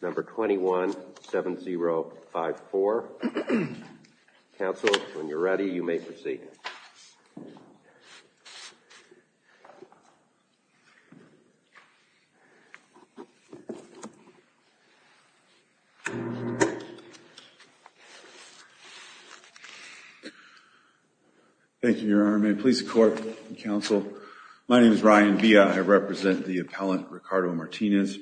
Number 21-7054. Council, when you're ready, you may proceed. Thank you, Your Honor. May the police, court, and counsel. My name is Ryan Villa. I represent the appellant, Ricardo Martinez.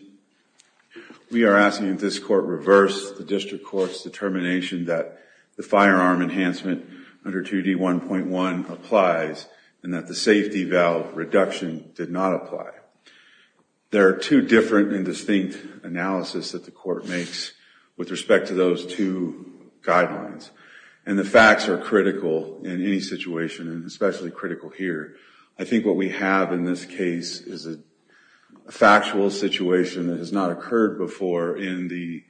We are asking that this court reverse the district court's firearm enhancement under 2D1.1 applies and that the safety valve reduction did not apply. There are two different and distinct analysis that the court makes with respect to those two guidelines. And the facts are critical in any situation and especially critical here. I think what we have in this case is a factual situation that has not occurred before in the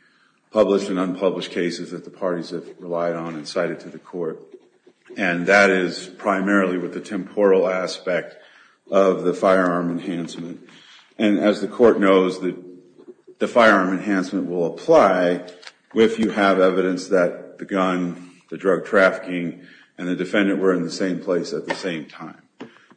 published and unpublished cases that the parties have relied on and cited to the court. And that is primarily with the temporal aspect of the firearm enhancement. And as the court knows, the firearm enhancement will apply if you have evidence that the gun, the drug trafficking, and the defendant were in the same place at the same time.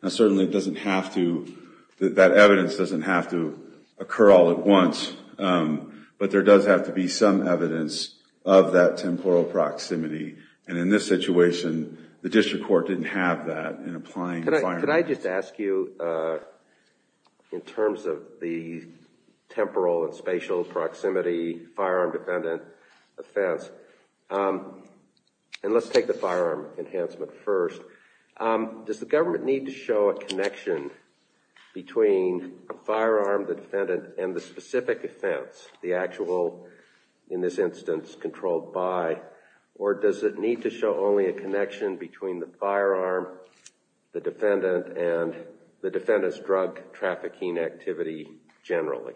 Now certainly it doesn't have to, that evidence doesn't have to occur all at once, but there does have to be some evidence of that temporal proximity. And in this situation, the district court didn't have that in applying the firearm enhancement. Could I just ask you, in terms of the temporal and spatial proximity firearm defendant offense, and let's take the firearm enhancement first, does the government need to show a connection between a firearm, the defendant, and the specific offense, the actual, in this instance, controlled by, or does it need to show only a connection between the firearm, the defendant, and the defendant's drug trafficking activity generally?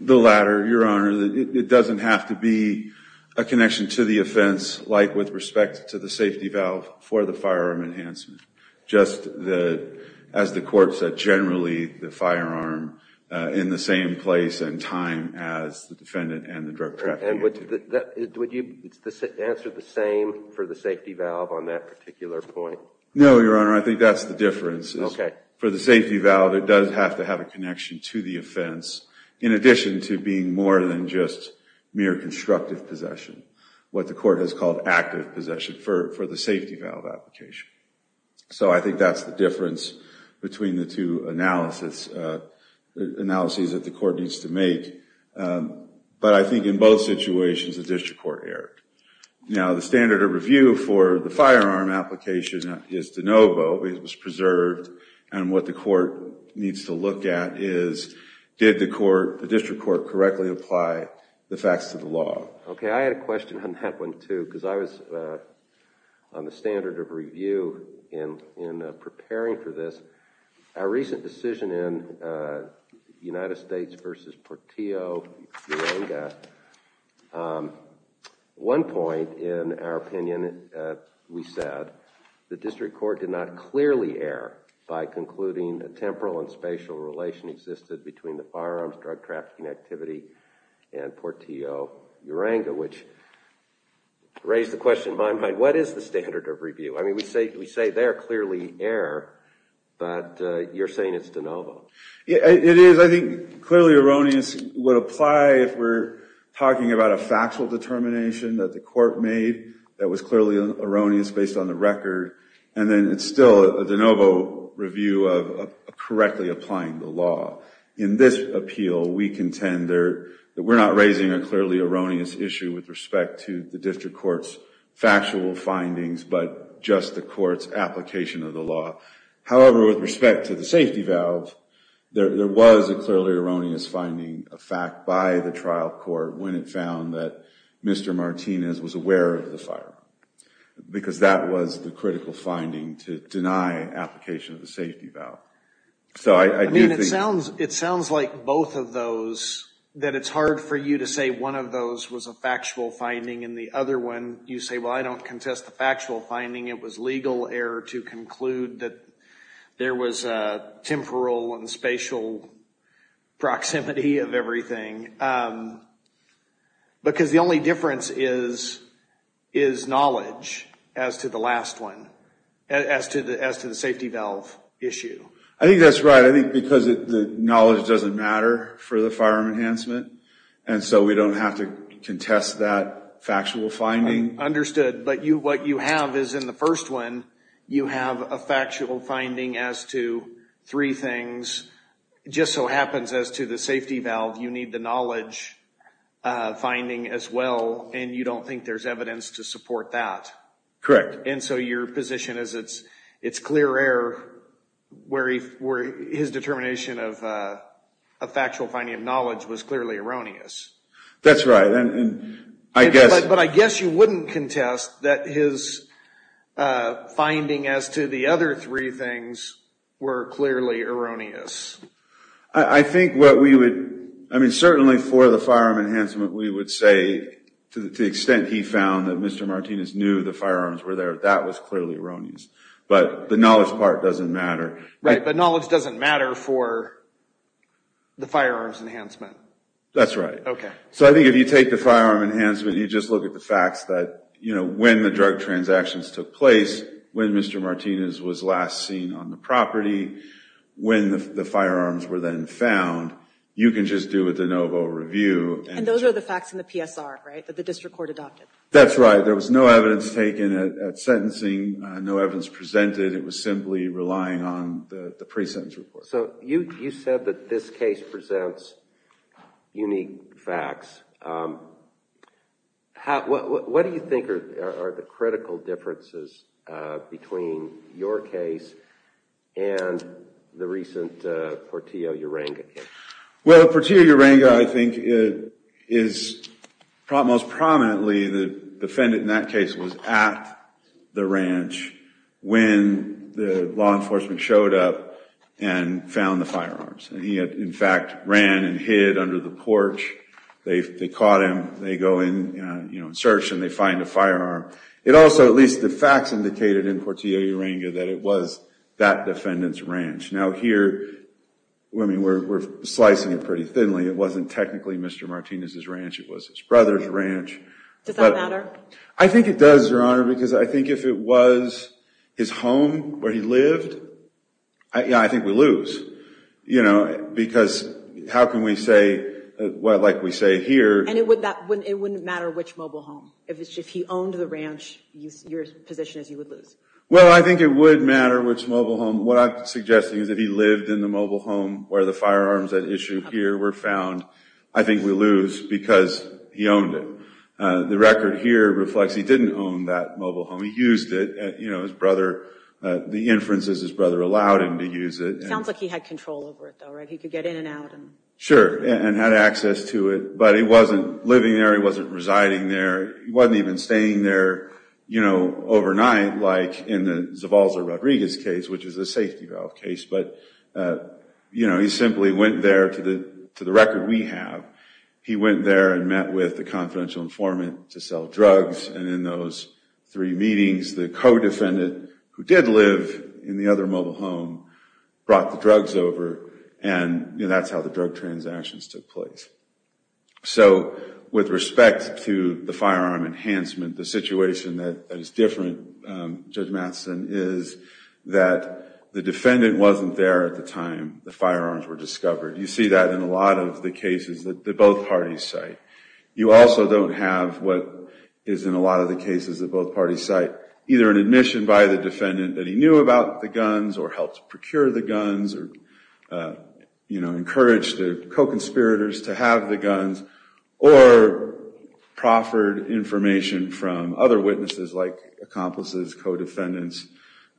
The latter, Your Honor. It doesn't have to be a connection to the offense, like with respect to the safety valve, for the firearm enhancement. Just as the court said, generally the firearm in the same place and time as the defendant and the drug trafficking activity. Would you answer the same for the safety valve on that particular point? No, Your Honor, I think that's the difference. For the safety valve, it does have to have a connection to the offense, in addition to being more than just mere constructive possession, what the court has called active possession for the safety valve application. So I think that's the difference between the two analyses that the court needs to make. But I think in both situations, the district court erred. Now, the standard of review for the firearm application is de novo, it was preserved, and what the court needs to look at is, did the district court correctly apply the facts to the law? Okay, I had a question on that one, too, because I was on the standard of review in preparing for this. Our recent decision in United States v. Portillo-Uranga, one point in our opinion, we said, the district court did not clearly err by concluding a temporal and spatial relation existed between the firearms drug trafficking activity and Portillo-Uranga, which raised the question in my mind, what is the standard of review? I mean, we say there, clearly error, but you're saying it's de novo. It is. I think clearly erroneous would apply if we're talking about a factual determination that the court made that was clearly erroneous based on the record, and then it's still a de novo review of correctly applying the law. In this appeal, we contend that we're not raising a clearly erroneous issue with respect to the district court's factual findings, but just the court's application of the law. However, with respect to the safety valve, there was a clearly erroneous finding, a fact, by the trial court when it found that Mr. Martinez was aware of the firearm, because that was the critical finding, to deny application of the safety valve. So I do think... I mean, it sounds like both of those, that it's hard for you to say one of those was a factual finding, and the other one, you say, well, I don't contest the factual finding. It was legal error to conclude that there was a temporal and spatial proximity of everything. Because the only difference is knowledge as to the last one, as to the safety valve issue. I think that's right. I think because the knowledge doesn't matter for the firearm enhancement, and so we don't have to contest that factual finding. Understood. But what you have is in the first one, you have a factual finding as to three knowledge finding as well, and you don't think there's evidence to support that. Correct. And so your position is it's clear error where his determination of a factual finding of knowledge was clearly erroneous. That's right. And I guess... But I guess you wouldn't contest that his finding as to the other three things were clearly erroneous. I think what we would... I mean, certainly for the firearm enhancement, we would say to the extent he found that Mr. Martinez knew the firearms were there, that was clearly erroneous. But the knowledge part doesn't matter. Right, but knowledge doesn't matter for the firearms enhancement. That's right. So I think if you take the firearm enhancement, you just look at the facts that when the drug transactions took place, when Mr. Martinez was last seen on the property, when the firearms were then found, you can just do a de novo review. And those are the facts in the PSR, right, that the district court adopted. That's right. There was no evidence taken at sentencing, no evidence presented. It was simply relying on the pre-sentence report. So you said that this case presents unique facts. What do you think are the critical differences between your case and the recent Portillo-Uranga case? Well, Portillo-Uranga, I think, is most prominently the defendant in that case was at the ranch when the law enforcement showed up and found the firearms. And he had, in fact, ran and hid under the porch. They caught him. They go in and search and they find a firearm. It also, at least the facts indicated in Portillo-Uranga that it was that defendant's ranch. Now here, I mean, we're slicing it pretty thinly. It wasn't technically Mr. Martinez's ranch. It was his brother's ranch. Does that matter? I think it does, Your Honor, because I think if it was his home where he lived, yeah, I think we lose, you know, because how can we say, well, like we say here... It wouldn't matter which mobile home. If he owned the ranch, your position is you would lose. Well, I think it would matter which mobile home. What I'm suggesting is if he lived in the mobile home where the firearms at issue here were found, I think we lose because he owned it. The record here reflects he didn't own that mobile home. He used it. You know, his brother, the inferences, his brother allowed him to use it. Sounds like he had control over it though, right? He could get in and out. Sure, and had access to it, but he wasn't living there. He wasn't residing there. He wasn't even staying there, you know, overnight like in the Zavalza-Rodriguez case, which is a safety valve case. But, you know, he simply went there to the record we have. He went there and met with the confidential informant to sell drugs. And in those three meetings, the co-defendant who did live in the other mobile home brought the drugs over. And that's how the drug transactions took place. So with respect to the firearm enhancement, the situation that is different, Judge Matheson, is that the defendant wasn't there at the time the firearms were discovered. You see that in a lot of the cases that both parties cite. You also don't have what is in a lot of the cases that both parties cite, either an admission by the defendant that he knew about the guns, or helped procure the guns, or, you know, encouraged the co-conspirators to have the guns, or proffered information from other witnesses like accomplices, co-defendants,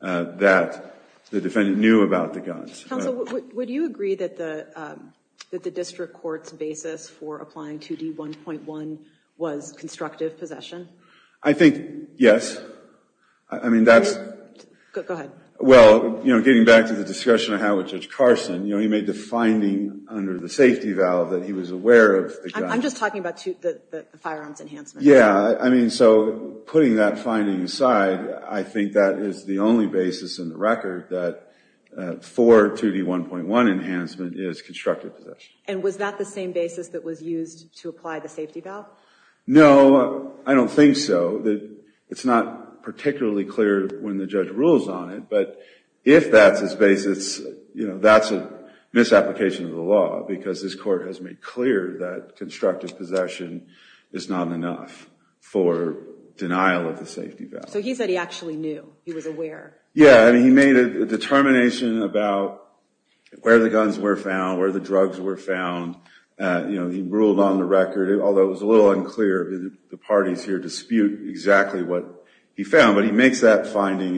that the defendant knew about the guns. Counsel, would you agree that the district court's basis for applying 2D1.1 was constructive possession? I think, yes. I mean, that's... Go ahead. Well, you know, getting back to the discussion I had with Judge Carson, you know, he made the finding under the safety valve that he was aware of the guns. I'm just talking about the firearms enhancement. Yeah. I mean, so putting that finding aside, I think that is the only basis in the record that for 2D1.1 enhancement is constructive possession. And was that the same basis that was used to apply the safety valve? No, I don't think so. It's not particularly clear when the judge rules on it, but if that's his basis, you know, that's a misapplication of the law, because this court has made clear that constructive possession is not enough for denial of the safety valve. So he said he actually knew. He was aware. Yeah, I mean, he made a determination about where the guns were found, where the drugs were found. You know, he ruled on the record, although it was a little unclear. The parties here dispute exactly what he found, but he makes that finding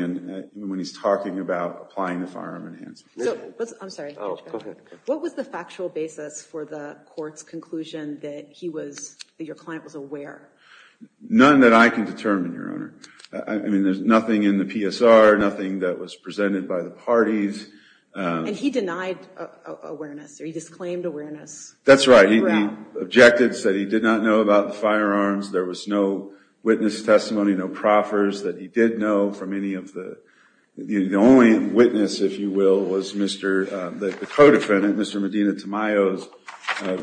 when he's talking about applying the firearm enhancement. I'm sorry. Oh, go ahead. What was the factual basis for the court's conclusion that he was... that your client was aware? None that I can determine, Your Honor. I mean, there's nothing in the PSR, nothing that was presented by the parties. And he denied awareness, or he disclaimed awareness? That's right. He objected, said he did not know about the firearms. There was no witness testimony, no proffers that he did know from any of the... The only witness, if you will, was Mr.... the co-defendant, Mr. Medina Tamayo's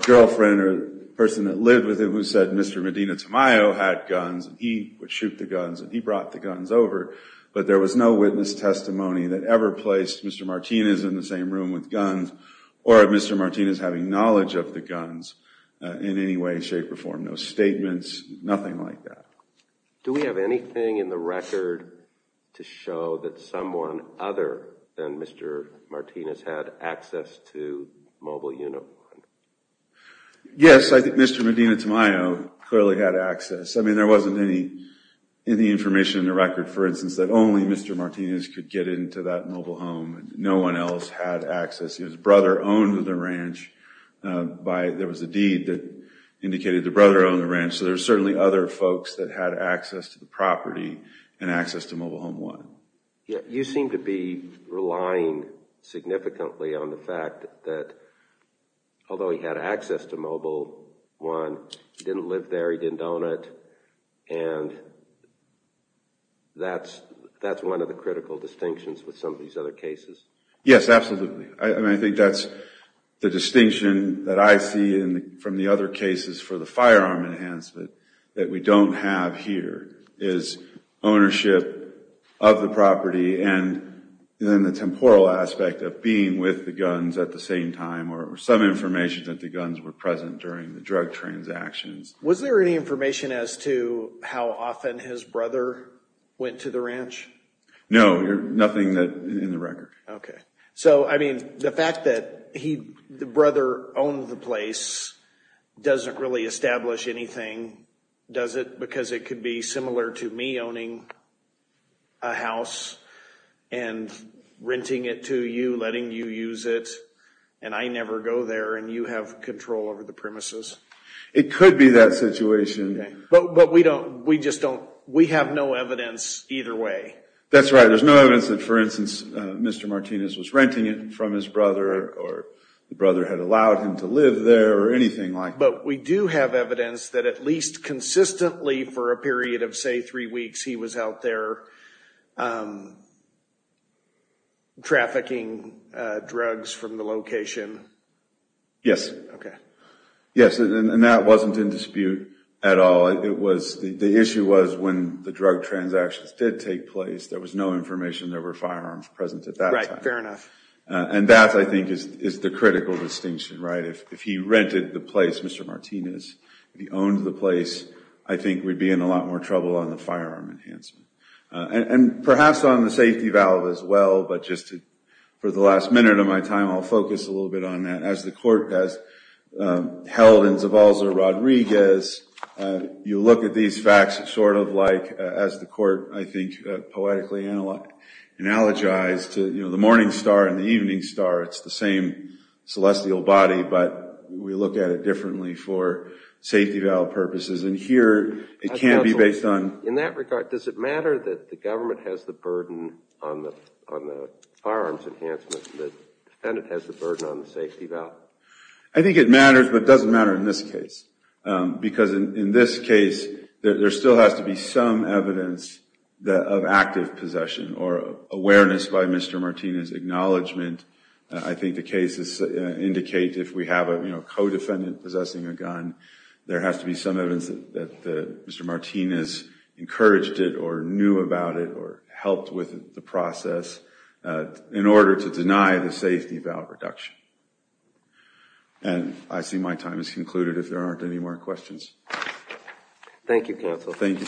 girlfriend, or the person that lived with him, who said Mr. Medina Tamayo had guns, and he would shoot the guns, and he brought the guns over. But there was no witness testimony that ever placed Mr. Martinez in the same room with guns, or Mr. Martinez having knowledge of the guns in any way, shape, or form. No statements, nothing like that. Do we have anything in the record to show that someone other than Mr. Martinez had access to Mobile Unit 1? Yes, I think Mr. Medina Tamayo clearly had access. I mean, there wasn't any information in the record, for instance, that only Mr. Martinez could get into that mobile home. No one else had access. His brother owned the ranch. There was a deed that indicated the brother owned the ranch, so there's certainly other folks that had access to the property and access to Mobile Home 1. You seem to be relying significantly on the fact that, although he had access to Mobile 1, he didn't live there, he didn't own it, and that's one of the critical distinctions with some of these other cases. Yes, absolutely. I mean, I think that's the distinction that I see from the other enhancements that we don't have here, is ownership of the property and then the temporal aspect of being with the guns at the same time, or some information that the guns were present during the drug transactions. Was there any information as to how often his brother went to the ranch? No, nothing in the record. So, I mean, the fact that the brother owned the place doesn't really establish anything, does it? Because it could be similar to me owning a house and renting it to you, letting you use it, and I never go there, and you have control over the premises. It could be that situation. But we just don't, we have no evidence either way. That's right, there's no evidence that, for instance, Mr. Martinez was renting it from his brother, or the brother had allowed him to live there, or anything like that. But we do have evidence that at least consistently for a period of, say, three weeks, he was out there trafficking drugs from the location. Yes. Okay. Yes, and that wasn't in dispute at all. It was, the issue was when the drug transactions did take place, there was no information there were firearms present at that time. Right, fair enough. And that, I think, is the critical distinction, right? If he rented the place, Mr. Martinez, if he owned the place, I think we'd be in a lot more trouble on the firearm enhancement. And perhaps on the safety valve as well, but just for the last minute of my time, I'll focus a little bit on that. As the court does, held in Zavalza-Rodriguez, you look at these facts sort of like, as the court, I think, poetically analogized, you know, the morning star and the evening star, it's the same celestial body, but we look at it differently for safety valve purposes. And here, it can't be based on- In that regard, does it matter that the government has the burden on the firearms enhancement, the defendant has the burden on the safety valve? I think it matters, but it doesn't matter in this case. Because in this case, there still has to be some evidence of active possession or awareness by Mr. Martinez' acknowledgment. I think the cases indicate if we have a co-defendant possessing a gun, there has to be some evidence that Mr. Martinez encouraged it or knew about it or helped with the process in order to And I see my time has concluded, if there aren't any more questions. Thank you, counsel. Thank you.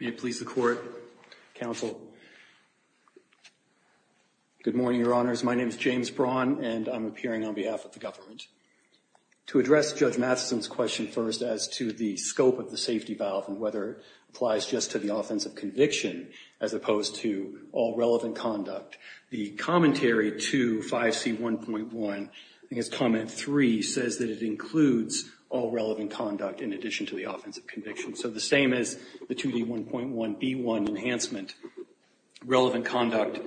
May it please the court, counsel. Good morning, your honors. My name is James Braun, and I'm to the scope of the safety valve and whether it applies just to the offensive conviction as opposed to all relevant conduct. The commentary to 5C1.1, I think it's comment three, says that it includes all relevant conduct in addition to the offensive conviction. So the same as the 2D1.1B1 enhancement, relevant conduct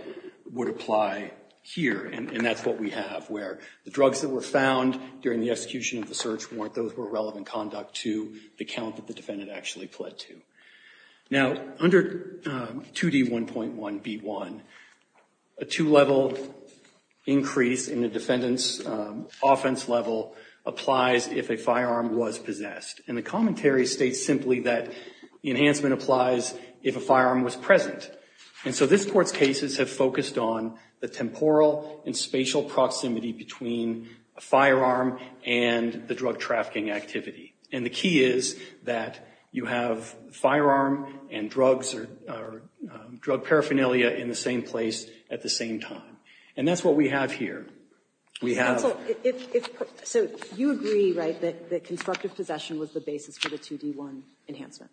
would apply here. And that's what we have, where the drugs that were found during the execution of the search weren't those who were relevant conduct to the count that the defendant actually pled to. Now under 2D1.1B1, a two-level increase in the defendant's offense level applies if a firearm was possessed. And the commentary states simply that the enhancement applies if a firearm was present. And so this court's cases have focused on the temporal and spatial proximity between a firearm and the drug trafficking activity. And the key is that you have a firearm and drugs or drug paraphernalia in the same place at the same time. And that's what we have here. We have— Counsel, if—so you agree, right, that constructive possession was the basis for the 2D1 enhancement?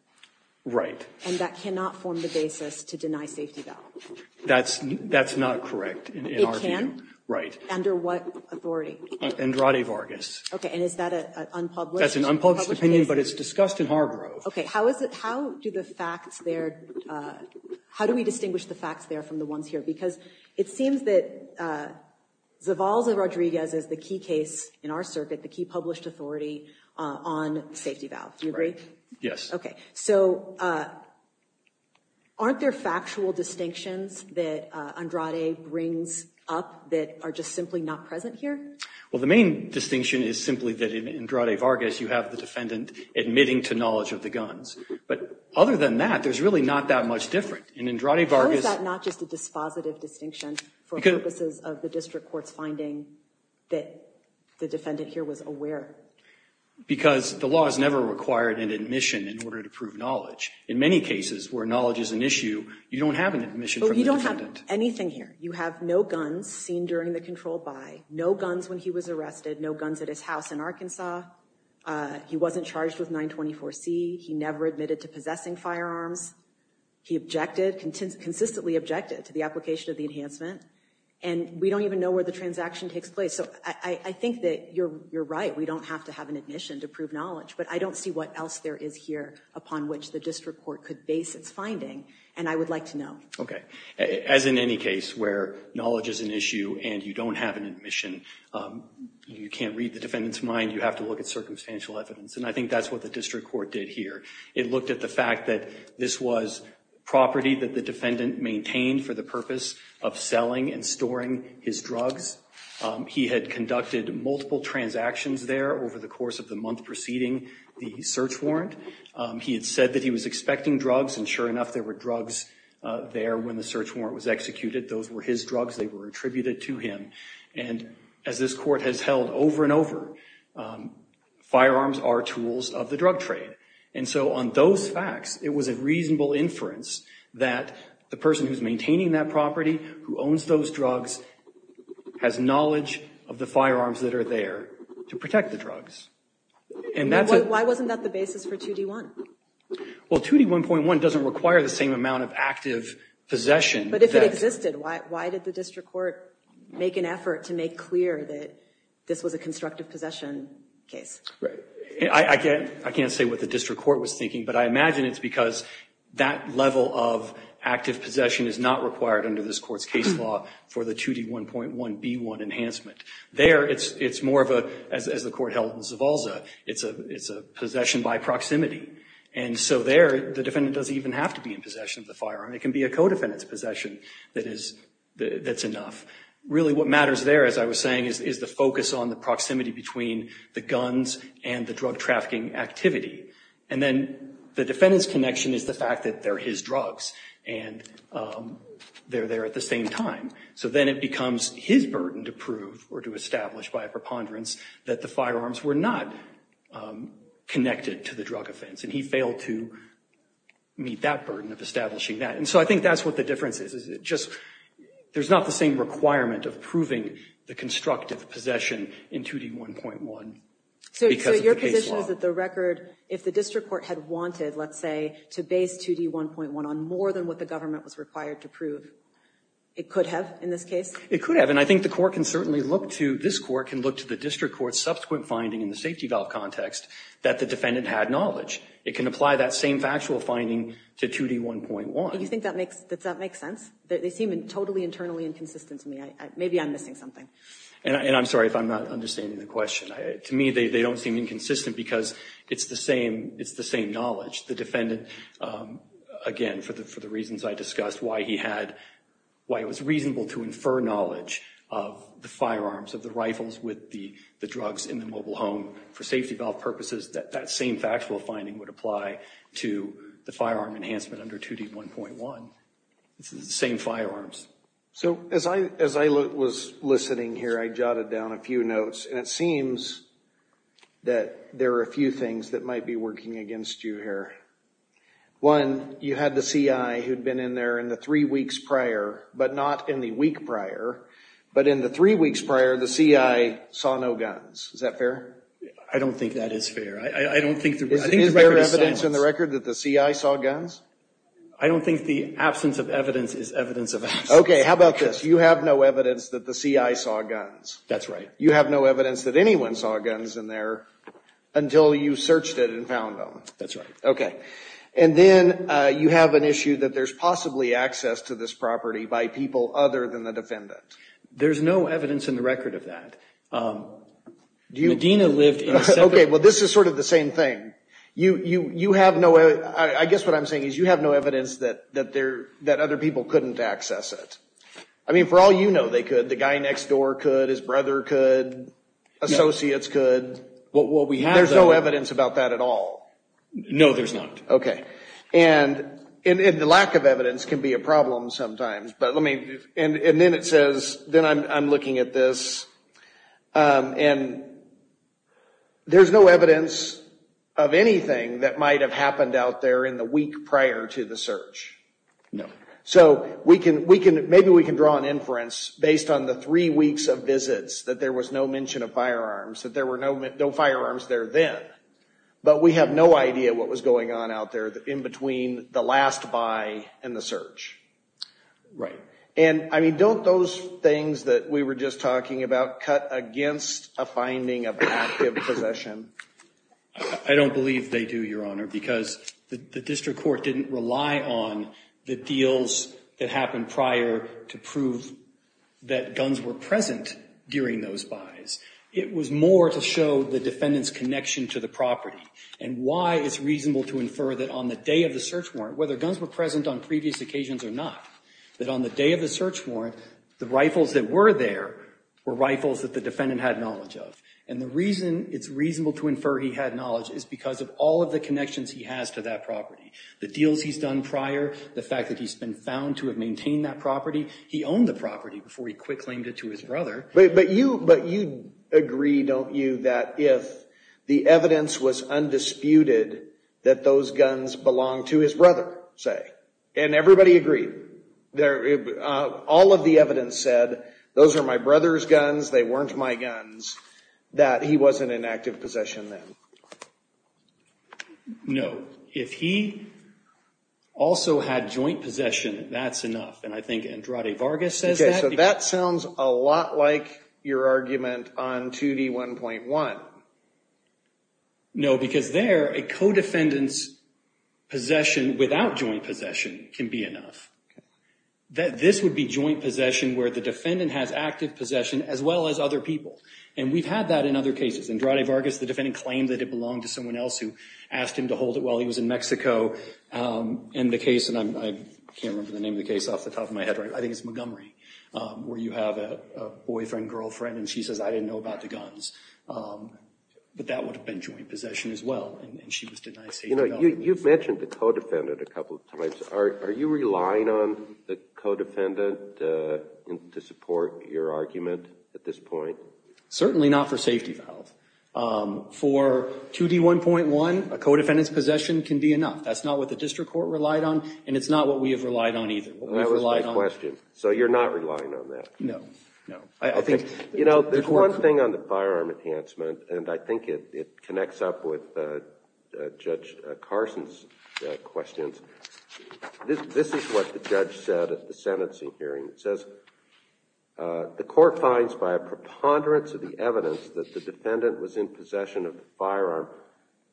Right. And that cannot form the basis to deny safety valve? That's not correct in our view. Right. Under what authority? Andrade Vargas. Okay, and is that an unpublished case? That's an unpublished opinion, but it's discussed in Hargrove. Okay, how is it—how do the facts there—how do we distinguish the facts there from the ones here? Because it seems that Zavalza-Rodriguez is the key case in our circuit, the key published authority on safety valve. Do you agree? Right. Yes. Okay, so aren't there factual distinctions that Andrade brings up that are just simply not present here? Well, the main distinction is simply that in Andrade Vargas you have the defendant admitting to knowledge of the guns. But other than that, there's really not that much different. In Andrade Vargas— How is that not just a dispositive distinction for purposes of the district court's finding that the defendant here was aware? Because the law has never required an admission in order to prove knowledge. In many cases where knowledge is an issue, you don't have an admission from the defendant. Well, you don't have anything here. You have no guns seen during the controlled buy, no guns when he was arrested, no guns at his house in Arkansas. He wasn't charged with 924C. He never admitted to possessing firearms. He objected—consistently objected to the application of the enhancement. And we don't even know where the transaction takes place. So I think that you're right. We don't have to have an admission to prove knowledge. But I don't see what else there is here upon which the district court could base its finding, and I would like to know. Okay. As in any case where knowledge is an issue and you don't have an admission, you can't read the defendant's mind. You have to look at circumstantial evidence. And I think that's what the district court did here. It looked at the fact that this was property that the defendant maintained for the purpose of selling and storing his drugs. He had conducted multiple transactions there over the course of the month preceding the search warrant. He had said that he was expecting drugs, and sure enough, there were drugs there when the search warrant was executed. Those were his drugs. They were attributed to him. And as this court has held over and over, firearms are tools of the drug trade. And so on those facts, it was a reasonable inference that the person who's maintaining that property, who owns those drugs, has knowledge of the firearms that are there to protect the drugs. Why wasn't that the basis for 2D1? Well, 2D1.1 doesn't require the same amount of active possession. But if it existed, why did the district court make an effort to make clear that this was a constructive possession case? I can't say what the district court was thinking, but I imagine it's because that level of active possession is part of this court's case law for the 2D1.1B1 enhancement. There, it's more of a, as the court held in Zavalza, it's a possession by proximity. And so there, the defendant doesn't even have to be in possession of the firearm. It can be a co-defendant's possession that's enough. Really what matters there, as I was saying, is the focus on the proximity between the guns and the drug trafficking activity. And then the defendant's connection is the fact that they're his drugs, and they're there at the same time. So then it becomes his burden to prove or to establish by a preponderance that the firearms were not connected to the drug offense. And he failed to meet that burden of establishing that. And so I think that's what the difference is. It just, there's not the same requirement of proving the constructive possession in 2D1.1 because of the case law. So the point is that the record, if the district court had wanted, let's say, to base 2D1.1 on more than what the government was required to prove, it could have in this case? It could have. And I think the court can certainly look to, this court can look to the district court's subsequent finding in the safety valve context that the defendant had knowledge. It can apply that same factual finding to 2D1.1. Do you think that makes, does that make sense? They seem totally internally inconsistent to me. Maybe I'm missing something. And I'm sorry if I'm not understanding the question. To me, they don't seem inconsistent because it's the same, it's the same knowledge. The defendant, again, for the reasons I discussed, why he had, why it was reasonable to infer knowledge of the firearms, of the rifles with the drugs in the mobile home for safety valve purposes, that same factual finding would apply to the firearm enhancement under 2D1.1. It's the same firearms. So as I, as I was listening here, I jotted down a few notes, and it seems that there are a few things that might be working against you here. One, you had the CI who'd been in there in the three weeks prior, but not in the week prior, but in the three weeks prior, the CI saw no guns. Is that fair? I don't think that is fair. I don't think the... Is there evidence in the record that the CI saw guns? I don't think the absence of evidence is evidence of absence. Okay. How about this? You have no evidence that the CI saw guns. That's right. You have no evidence that anyone saw guns in there until you searched it and found them. That's right. Okay. And then you have an issue that there's possibly access to this property by people other than the defendant. Okay. Well, this is sort of the same thing. You have no, I guess what I'm saying is you have no evidence that other people couldn't access it. I mean, for all you know, they could. The guy next door could. His brother could. Associates could. Well, we have... There's no evidence about that at all. No, there's not. Okay. And the lack of evidence can be a problem sometimes. But let me, and then it says, then I'm looking at this, and there's no evidence of anything that might have happened out there in the week prior to the search. No. So we can, maybe we can draw an inference based on the three weeks of visits that there was no mention of firearms, that there were no firearms there then. But we have no idea what was going on out there in between the last buy and the search. Right. And, I mean, don't those things that we were just talking about cut against a finding of active possession? I don't believe they do, Your Honor, because the district court didn't rely on the deals that happened prior to prove that guns were present during those buys. It was more to show the defendant's connection to the property and why it's reasonable to infer that on the day of the search warrant, whether guns were present on previous occasions or not, that on the day of the search warrant, the rifles that were there were rifles that the defendant had knowledge of. And the reason it's reasonable to infer he had knowledge is because of all of the connections he has to that property. The deals he's done prior, the fact that he's been found to have maintained that property, he owned the property before he quick claimed it to his brother. But you agree, don't you, that if the evidence was undisputed that those guns belonged to his brother, say, and everybody agreed, all of the evidence said, those are my brother's guns, they weren't my guns, that he wasn't in active possession then? No. If he also had joint possession, that's enough. And I think Andrade Vargas says that. So that sounds a lot like your argument on 2D1.1. No, because there, a co-defendant's possession without joint possession can be enough. This would be joint possession where the defendant has active possession as well as other people. And we've had that in other cases. Andrade Vargas, the defendant claimed that it belonged to someone else who asked him to hold it while he was in Mexico. And the case, and I can't remember the name of the case off the top of my head right now, I think it's Montgomery, where you have a boyfriend, girlfriend, and she says, I didn't know about the guns. But that would have been joint possession as well. And she was denied safety vows. You know, you've mentioned the co-defendant a couple of times. Are you relying on the co-defendant to support your argument at this point? Certainly not for safety vows. For 2D1.1, a co-defendant's possession can be enough. That's not what the district court relied on, and it's not what we have relied on either. That was my question. So you're not relying on that? No, no. You know, there's one thing on the firearm enhancement, and I think it connects up with Judge Carson's questions. This is what the judge said at the sentencing hearing. It says, the court finds by a preponderance of the evidence that the defendant was in possession of the firearm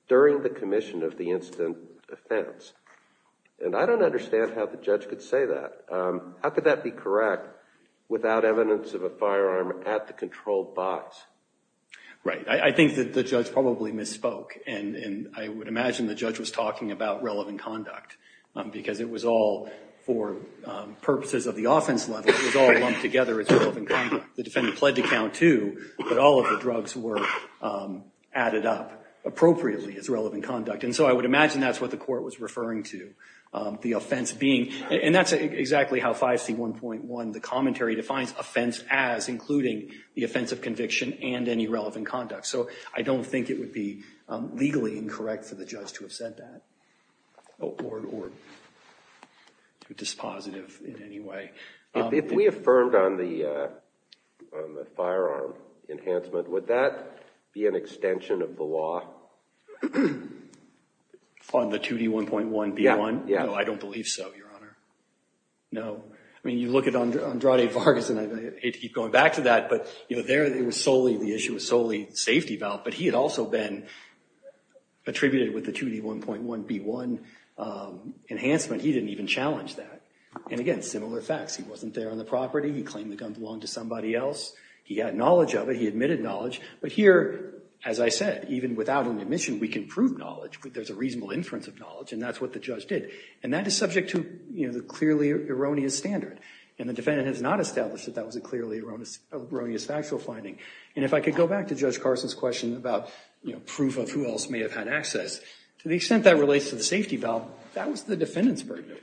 during the commission of the incident offense. And I don't understand how the judge could say that. How could that be correct without evidence of a firearm at the controlled box? Right. I think that the judge probably misspoke, and I would imagine the judge was talking about relevant conduct. Because it was all, for purposes of the offense level, it was all lumped together as relevant conduct. The defendant pled to count too, but all of the appropriately as relevant conduct. And so I would imagine that's what the court was referring to, the offense being. And that's exactly how 5C1.1, the commentary, defines offense as, including the offense of conviction and any relevant conduct. So I don't think it would be legally incorrect for the judge to have said that, or dispositive in any way. If we affirmed on the firearm enhancement, would that be an extension of the law? On the 2D1.1B1? Yeah. No, I don't believe so, Your Honor. No. I mean, you look at Andrade Vargas, and I hate to keep going back to that, but there the issue was solely safety valve. But he had also been attributed with the 2D1.1B1 enhancement. He didn't even challenge that. And again, there are similar facts. He wasn't there on the property. He claimed the gun belonged to somebody else. He had knowledge of it. He admitted knowledge. But here, as I said, even without an admission, we can prove knowledge. There's a reasonable inference of knowledge, and that's what the judge did. And that is subject to the clearly erroneous standard. And the defendant has not established that that was a clearly erroneous factual finding. And if I could go back to Judge Carson's question about proof of who else may have had access, to the extent that relates to the safety valve, that was the defendant's argument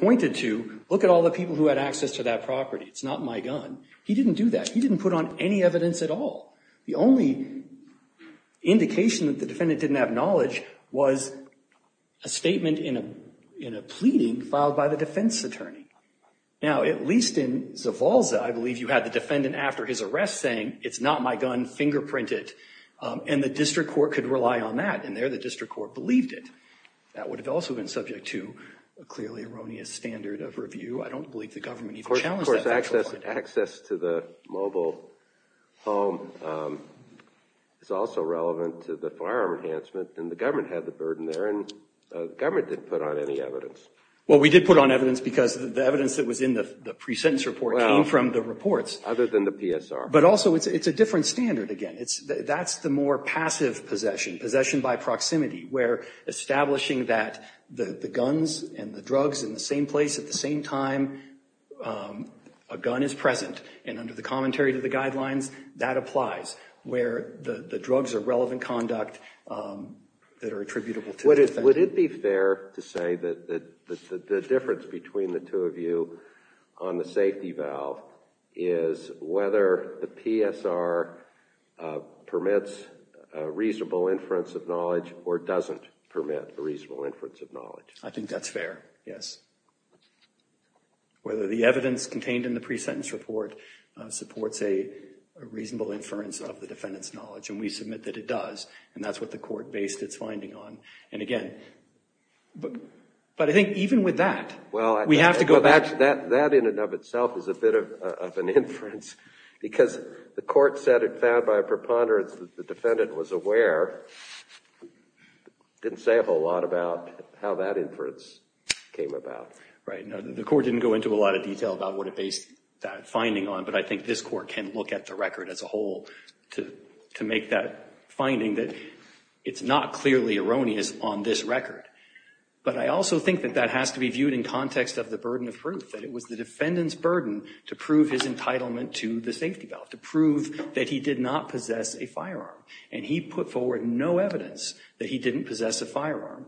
pointed to, look at all the people who had access to that property. It's not my gun. He didn't do that. He didn't put on any evidence at all. The only indication that the defendant didn't have knowledge was a statement in a pleading filed by the defense attorney. Now, at least in Zavalza, I believe you had the defendant after his arrest saying, it's not my gun, fingerprint it. And the district court could rely on that. And there, the district court believed it. That would have also been subject to a clearly erroneous standard of review. I don't believe the government even challenged that factual finding. Of course, access to the mobile home is also relevant to the firearm enhancement. And the government had the burden there. And the government didn't put on any evidence. Well, we did put on evidence because the evidence that was in the pre-sentence report came from the reports. Well, other than the PSR. But also, it's a different standard again. That's the more passive possession, possession by proximity, where establishing that the guns and the drugs in the same place at the same time, a gun is present. And under the commentary to the guidelines, that applies. Where the drugs are relevant conduct that are attributable to the defendant. Would it be fair to say that the difference between the two of you on the safety valve is whether the PSR permits a reasonable inference of knowledge or doesn't permit a reasonable inference of knowledge? I think that's fair, yes. Whether the evidence contained in the pre-sentence report supports a reasonable inference of the defendant's knowledge. And we submit that it does. And that's what the court based its finding on. And again, but I think even with that, we have to go back. That in and of itself is a bit of an inference. Because the court said it found by a preponderance that the defendant was aware. Didn't say a whole lot about how that inference came about. Right. The court didn't go into a lot of detail about what it based that finding on. But I think this court can look at the record as a whole to make that finding that it's not clearly erroneous on this record. But I also think that that has to be viewed in context of the burden of proof. That it was the defendant's burden to prove his entitlement to the safety valve. To prove that he did not possess a firearm. And he put forward no evidence that he didn't possess a firearm.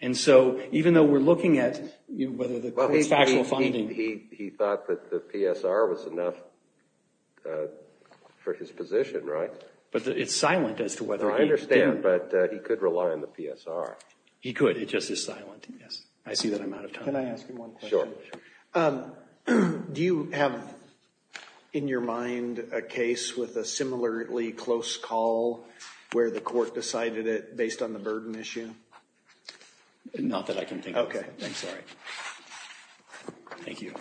And so even though we're looking at whether the factual finding… He thought that the PSR was enough for his position, right? But it's silent as to whether he… I understand. But he could rely on the PSR. He could. It just is silent. Yes. I see that I'm out of time. Can I ask you one question? Sure. Do you have in your mind a case with a similarly close call where the court decided it based on the burden issue? Not that I can think of. Okay. I'm sorry. Thank you.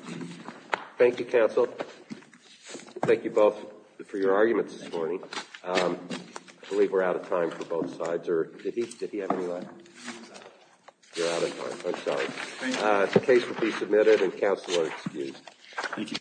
Thank you, counsel. Thank you both for your arguments this morning. I believe we're out of time for both sides. Did he have any last… You're out of time. I'm sorry. Thank you. The case will be submitted and counsel are excused.